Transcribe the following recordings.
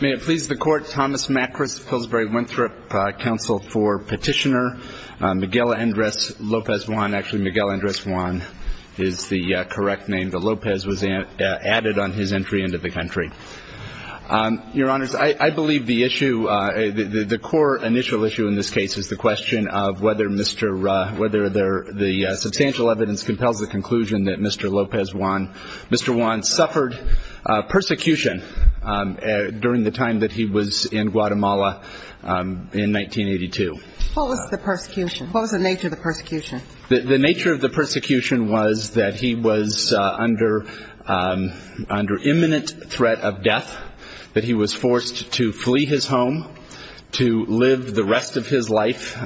May it please the Court, Thomas Macris, Pillsbury-Winthrop Council for Petitioner, Miguel Andres López-Juan actually Miguel Andres Juan is the correct name, but López was added on his entry into the country. Your Honors, I believe the issue, the core initial issue in this case is the question of whether the substantial evidence compels the conclusion that Mr. López-Juan suffered persecution during the time that he was in Guatemala in 1982. What was the persecution? What was the nature of the persecution? The nature of the persecution was that he was under imminent threat of death, that he was forced to flee his home to live the rest of his life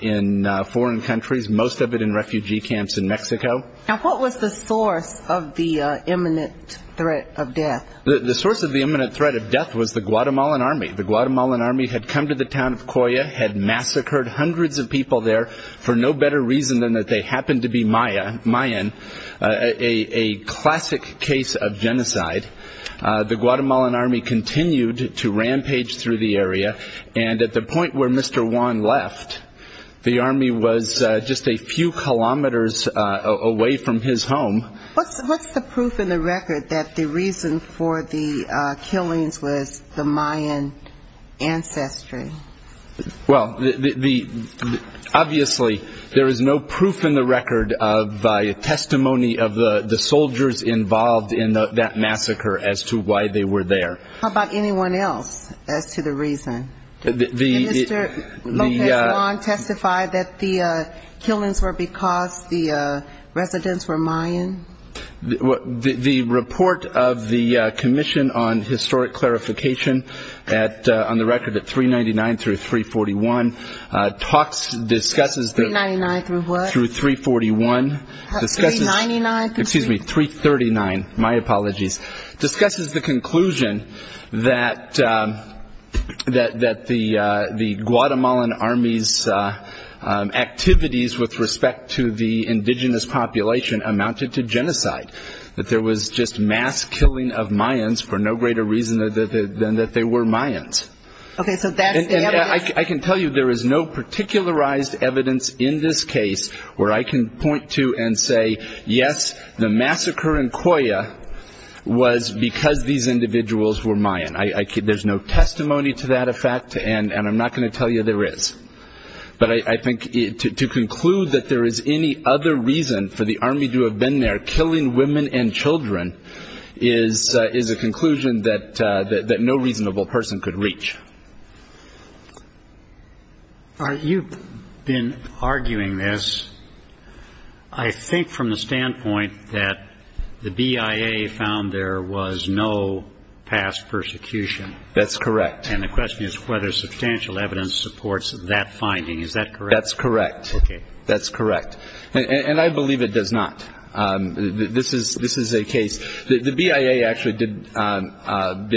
in foreign countries, most of it in refugee camps in Mexico. Now what was the source of the imminent threat of death? The source of the imminent threat of death was the Guatemalan Army. The Guatemalan Army had come to the town of Coya, had massacred hundreds of people there for no better reason than that they happened to be Mayan, a classic case of genocide. The Guatemalan Army continued to rampage through the area and at the point where Mr. Juan left, the Army was just a few kilometers away from his home. What's the proof in the record that the reason for the killings was the Mayan ancestry? Well, obviously there is no proof in the record of testimony of the soldiers involved in that massacre as to why they were there. How about anyone else as to the reason? Did Mr. Lopez Juan testify that the killings were because the residents were Mayan? The report of the Commission on Historic Clarification on the record at 399 through 341, talks, discusses... 399 through what? Through 341. Excuse me, 339, my apologies. Discusses the conclusion that the Guatemalan Army's activities with respect to the indigenous population amounted to genocide. That there was just mass killing of Mayans for no greater reason than that they were Mayans. Okay, so I can tell you there is no particularized evidence in this case where I can point to and say, yes, the massacre in Coya was because these individuals were Mayan. There's no testimony to that effect and I'm not going to tell you there is. But I think to conclude that there is any other reason for the Army to have been there killing women and children is a conclusion that no reasonable person could reach. You've been arguing this, I think from the standpoint that the BIA found there was no past persecution. That's correct. And the question is whether substantial evidence supports that finding. Is that correct? That's correct. That's correct. And I believe it does not. This is a case. The BIA actually did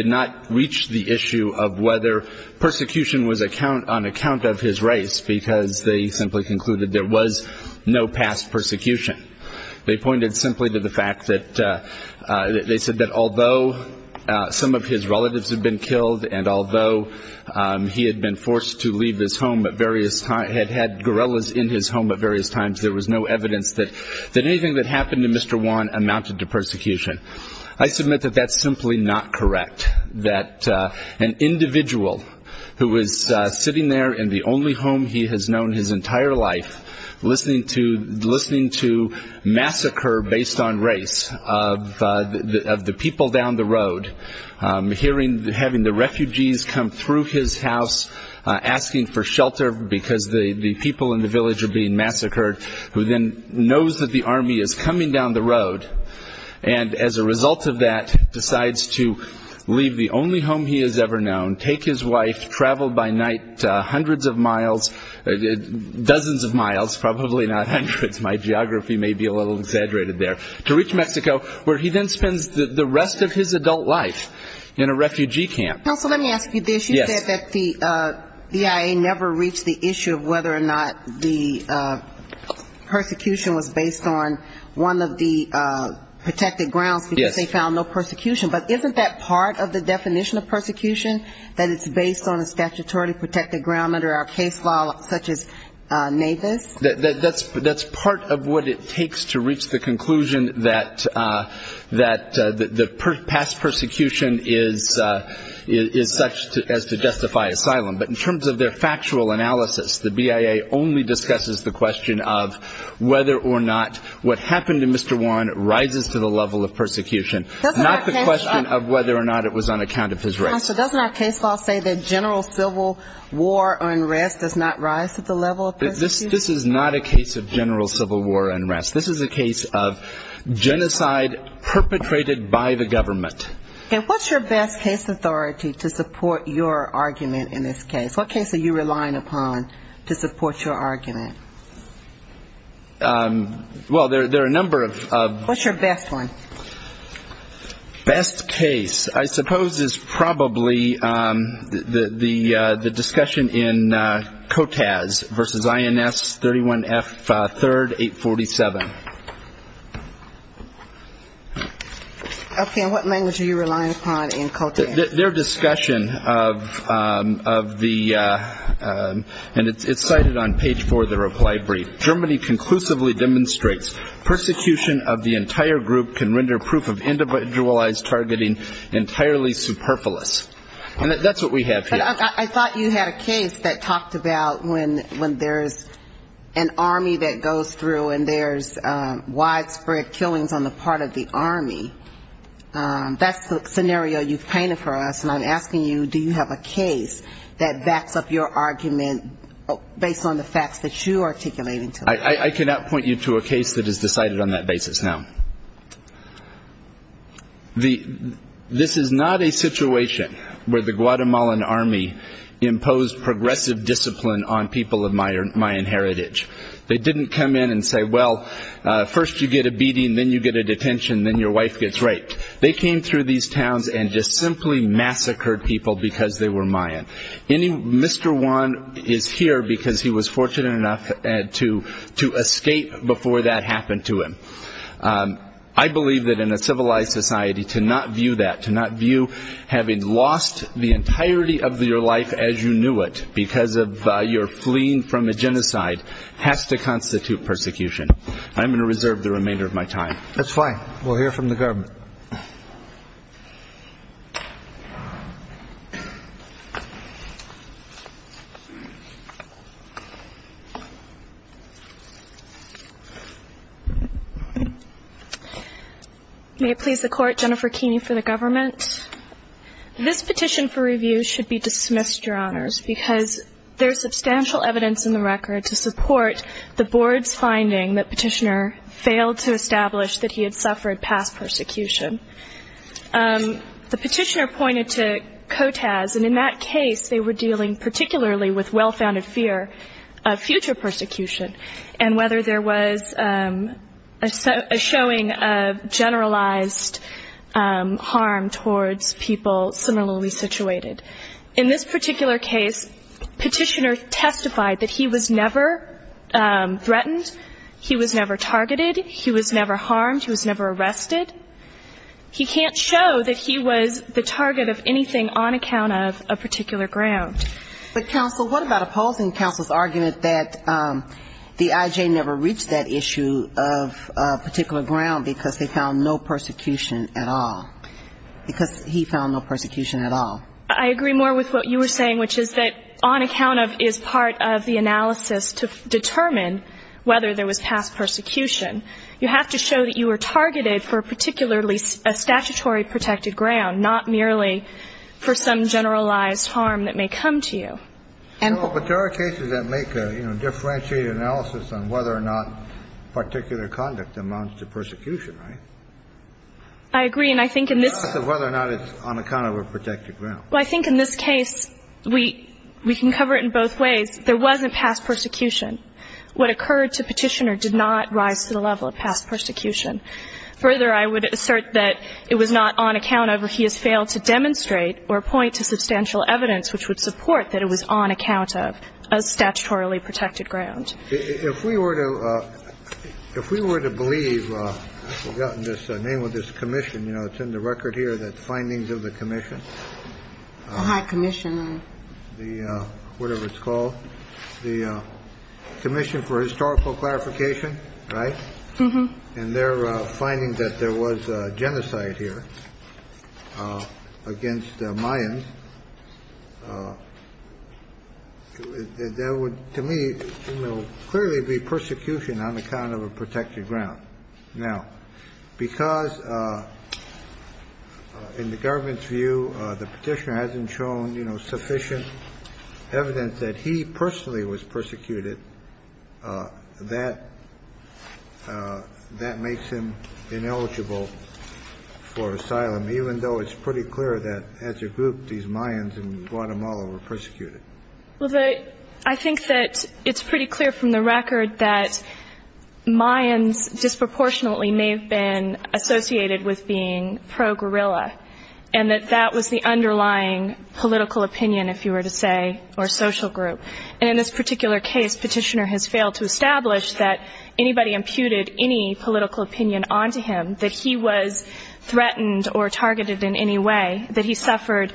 not reach the issue of whether persecution was on account of his race because they simply concluded there was no past persecution. They pointed simply to the fact that they said that although some of his relatives had been killed and although he had been forced to leave his home at various times, had had guerrillas in his home at various times, there was no evidence that anything that happened to Mr. Juan amounted to persecution. I submit that that's simply not correct. That an individual who was sitting there in the only home he has known his entire life listening to massacre based on race of the people down the road, hearing, having the refugees come through his house asking for shelter because the people in the village are being massacred, who then knows that the army is coming down the road, and as a result of that decides to leave the only home he has ever known, take his wife, travel by night hundreds of miles, dozens of miles, probably not hundreds, my geography may be a little exaggerated there, to reach Mexico where he then spends the rest of his adult life in a refugee camp. Counsel, let me ask you this. You said that the EIA never reached the issue of whether or not the persecution was based on one of the protected grounds because they found no persecution, but isn't that part of the definition of persecution, that it's based on a statutory protected ground under our case law such as NAVIS? That's part of what it takes to reach the conclusion that the past persecution is not such as to justify asylum, but in terms of their factual analysis, the BIA only discusses the question of whether or not what happened to Mr. Juan rises to the level of persecution, not the question of whether or not it was on account of his race. Counsel, doesn't our case law say that general civil war unrest does not rise to the level of persecution? This is not a case of general civil war unrest. This is a case of genocide perpetrated by the government. And what's your best case authority to support your argument in this case? What case are you relying upon to support your argument? Well, there are a number of... What's your best one? Best case I suppose is probably the discussion in COTAS versus INS 31F 3rd 847. Okay, and what language are you relying upon in COTAS? Their discussion of the, and it's cited on page 4 of the reply brief, Germany conclusively demonstrates persecution of the entire group can render proof of individualized targeting entirely superfluous. And that's what we have here. But I thought you had a case that talked about when there's an army that goes through and there's widespread killings on the part of the army. That's the scenario you've painted for us. And I'm asking you, do you have a case that backs up your argument based on the facts that you are articulating to us? I cannot point you to a case that is decided on that basis now. This is not a situation where the Guatemalan army imposed progressive discipline on people of Mayan heritage. They didn't come in and say, well, first you get a beating, then you get a detention, then your wife gets raped. They came through these towns and just simply massacred people because they were Mayan. Mr. Juan is here because he was fortunate enough to escape before that happened to him. I believe that in a civilized society to not view that, to not view having lost the entirety of your life as you knew it because of your fleeing from a genocide has to constitute persecution. I'm going to reserve the remainder of my time. That's fine. We'll hear from the government. May it please the Court, Jennifer Keeney for the government. This petition for review should be dismissed, Your Honors, because there is substantial evidence in the record to support the Board's finding that Petitioner failed to establish that he had suffered past persecution. The Petitioner pointed to COTAS, and in that case they were dealing particularly with well-founded fear of future persecution and whether there was a showing of generalized harm towards people similarly situated. In this particular case, Petitioner testified that he was never the target of anything on account of a particular ground. But, counsel, what about opposing counsel's argument that the IJ never reached that issue of particular ground because they found no persecution at all, because he found no persecution at all? I agree more with what you were saying, which is that on account of is part of the analysis to determine whether there was past persecution. You have to show that you were targeted for particularly a statutory protected ground, not merely for some generalized harm that may come to you. Well, but there are cases that make a, you know, differentiated analysis on whether or not particular conduct amounts to persecution, right? I agree, and I think in this — It's not whether or not it's on account of a protected ground. Well, I think in this case we can cover it in both ways. There wasn't past persecution. What occurred to Petitioner did not rise to the level of past persecution. Further, I would assert that it was not on account of if he has failed to demonstrate or point to substantial evidence which would support that it was on account of a statutorily protected ground. If we were to — if we were to believe — I've forgotten the name of this commission. You know, it's in the record here, the Findings of the Commission. The High Commission. The — whatever it's called. The Commission for Historical Clarification, right? And they're finding that there was genocide here against Mayans. There would, to me, clearly be persecution on account of a protected ground. Now, because in the government's view, the Petitioner hasn't shown, you know, sufficient evidence that he personally was persecuted, that — that makes him ineligible for asylum, even though it's pretty clear that as a group, these Mayans in Guatemala were persecuted. Well, the — I think that it's pretty clear from the record that Mayans disproportionately may have been associated with being pro-guerrilla, and that that was the underlying political opinion, if you were to say, or social group. And in this particular case, Petitioner has failed to establish that anybody imputed any political opinion onto him, that he was threatened or targeted in any way, that he suffered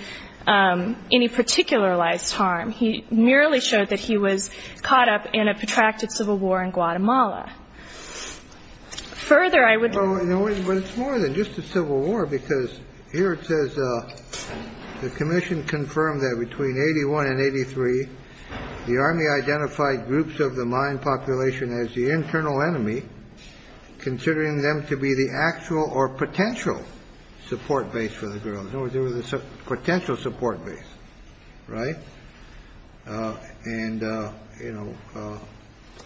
any particularized harm. He merely showed that he was caught up in a protracted civil war in Guatemala. Further, I would — Well, no, but it's more than just a civil war, because here it says the Commission confirmed that between 81 and 83, the Army identified groups of the Mayan population as the internal enemy, considering them to be the actual or potential support base for the guerrillas. In other words, they were the potential support base, right? And, you know,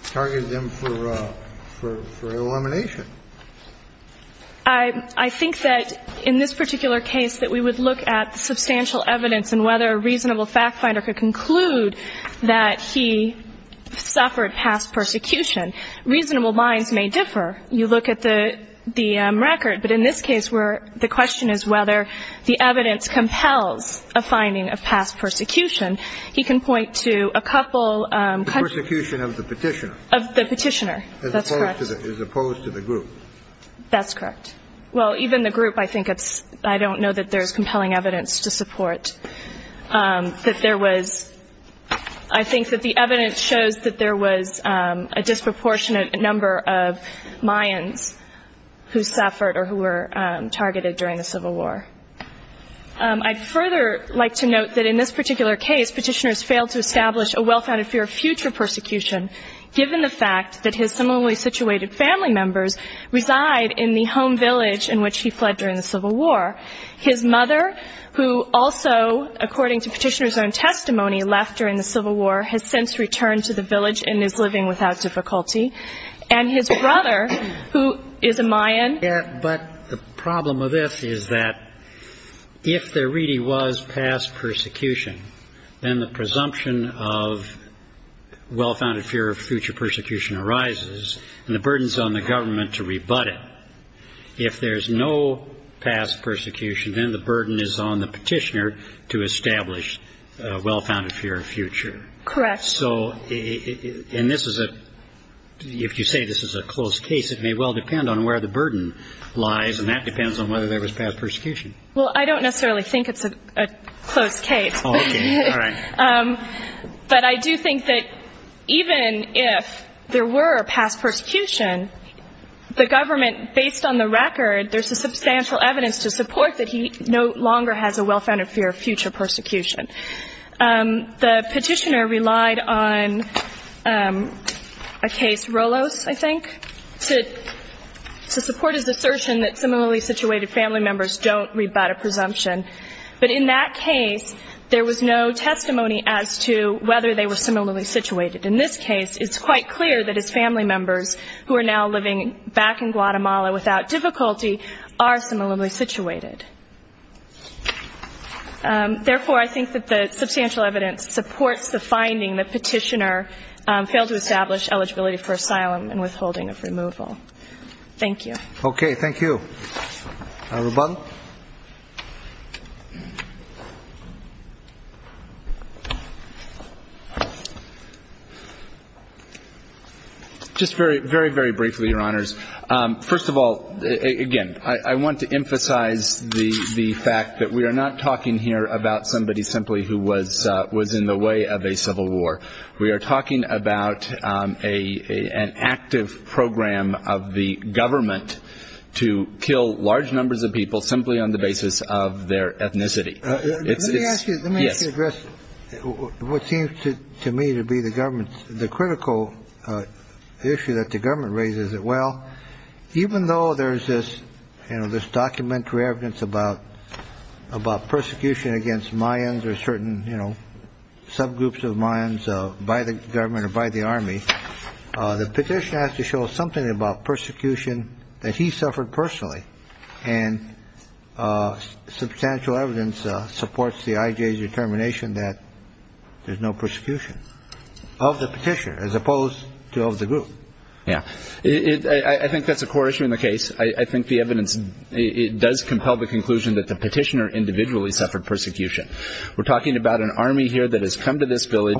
targeted them for elimination. I think that in this particular case, that we would look at the substantial evidence in whether a reasonable fact finder could conclude that he suffered past persecution. Reasonable minds may differ. You look at the record, but in this case, where the question is whether the evidence compels a finding of past persecution, he can point to a couple — The persecution of the Petitioner. Of the Petitioner. That's correct. As opposed to the group. That's correct. Well, even the group, I think it's — I don't know that there's compelling evidence to support that there was — I think that the evidence shows that there was a disproportionate number of Mayans who suffered or who were targeted during the Civil War. I'd further like to note that in this particular case, Petitioner has failed to establish a well-founded fear of future persecution, given the fact that his similarly situated family members reside in the home village in which he fled during the Civil War. His mother, who also, according to Petitioner's own testimony, left during the Civil War, has since returned to the village and is living without difficulty. And his brother, who is a Mayan — Yeah, but the problem of this is that if there really was past persecution, then the presumption of well-founded fear of future persecution arises, and the burden is on the government to rebut it. If there's no past persecution, then the burden is on the Petitioner to establish a well-founded fear of future. Correct. So — and this is a — if you say this is a close case, it may well depend on where the burden lies, and that depends on whether there was past persecution. Well, I don't necessarily think it's a close case. Oh, okay. All right. But I do think that even if there were a past persecution, the government, based on the record, there's a substantial evidence to support that he no longer has a well-founded fear of future persecution. The Petitioner relied on a case, Rolos, I think, to support his assertion that similarly situated family members don't rebut a presumption. But in that case, there was no testimony as to whether they were similarly situated. In this case, it's quite clear that his family members, who are now living back in Guatemala without difficulty, are similarly situated. Therefore, I think that the substantial evidence supports the finding that Petitioner failed to establish eligibility for asylum and withholding of removal. Thank you. Okay. Thank you. Rubal? Just very, very, very briefly, Your Honors. First of all, again, I want to emphasize the fact that we are not talking here about somebody simply who was in the way of a civil war. We are talking about an active program of the government to kill large numbers of people simply on the basis of their ethnicity. Let me ask you, let me ask you to address what seems to me to be the government's, the critical issue that the government raises. Well, even though there is this, you know, this documentary evidence about about persecution against Mayans or certain, you know, subgroups of Mayans by the government or by the army, the petition has to show something about persecution that he suffered personally and substantial evidence supports the IJ's determination that there's no persecution. Of the petition, as opposed to of the group. Yeah. I think that's a core issue in the case. I think the evidence, it does compel the conclusion that the petitioner individually suffered persecution. We're talking about an army here that has come to this village.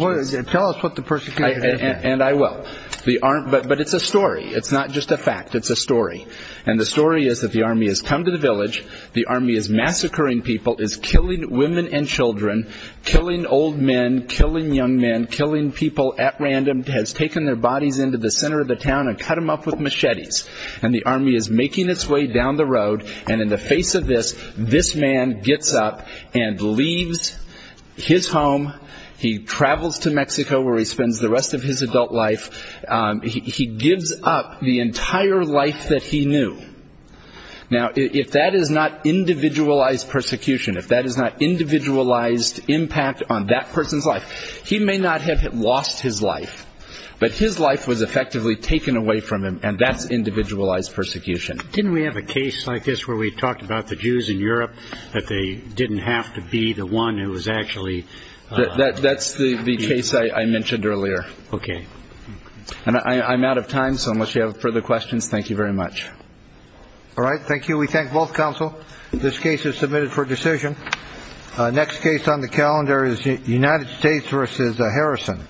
Tell us what the persecution is. And I will. But it's a story. It's not just a fact. It's a story. And the story is that the army has come to the village. The army is massacring people, is killing women and children, killing old men, killing young men, killing people at random, has taken their bodies into the center of the town and cut them up with machetes. And the army is making its way down the road. And in the face of this, this man gets up and leaves his home. He travels to Mexico where he spends the rest of his adult life. He gives up the entire life that he knew. Now, if that is not individualized persecution, if that is not individualized impact on that person's life, he may not have lost his life, but his life was effectively taken away from him. And that's individualized persecution. Didn't we have a case like this where we talked about the Jews in Europe, that they didn't have to be the one who was actually. That's the case I mentioned earlier. OK. And I'm out of time. So unless you have further questions. Thank you very much. All right. Thank you. We thank both counsel. This case is submitted for decision. Next case on the calendar is United States versus Harrison.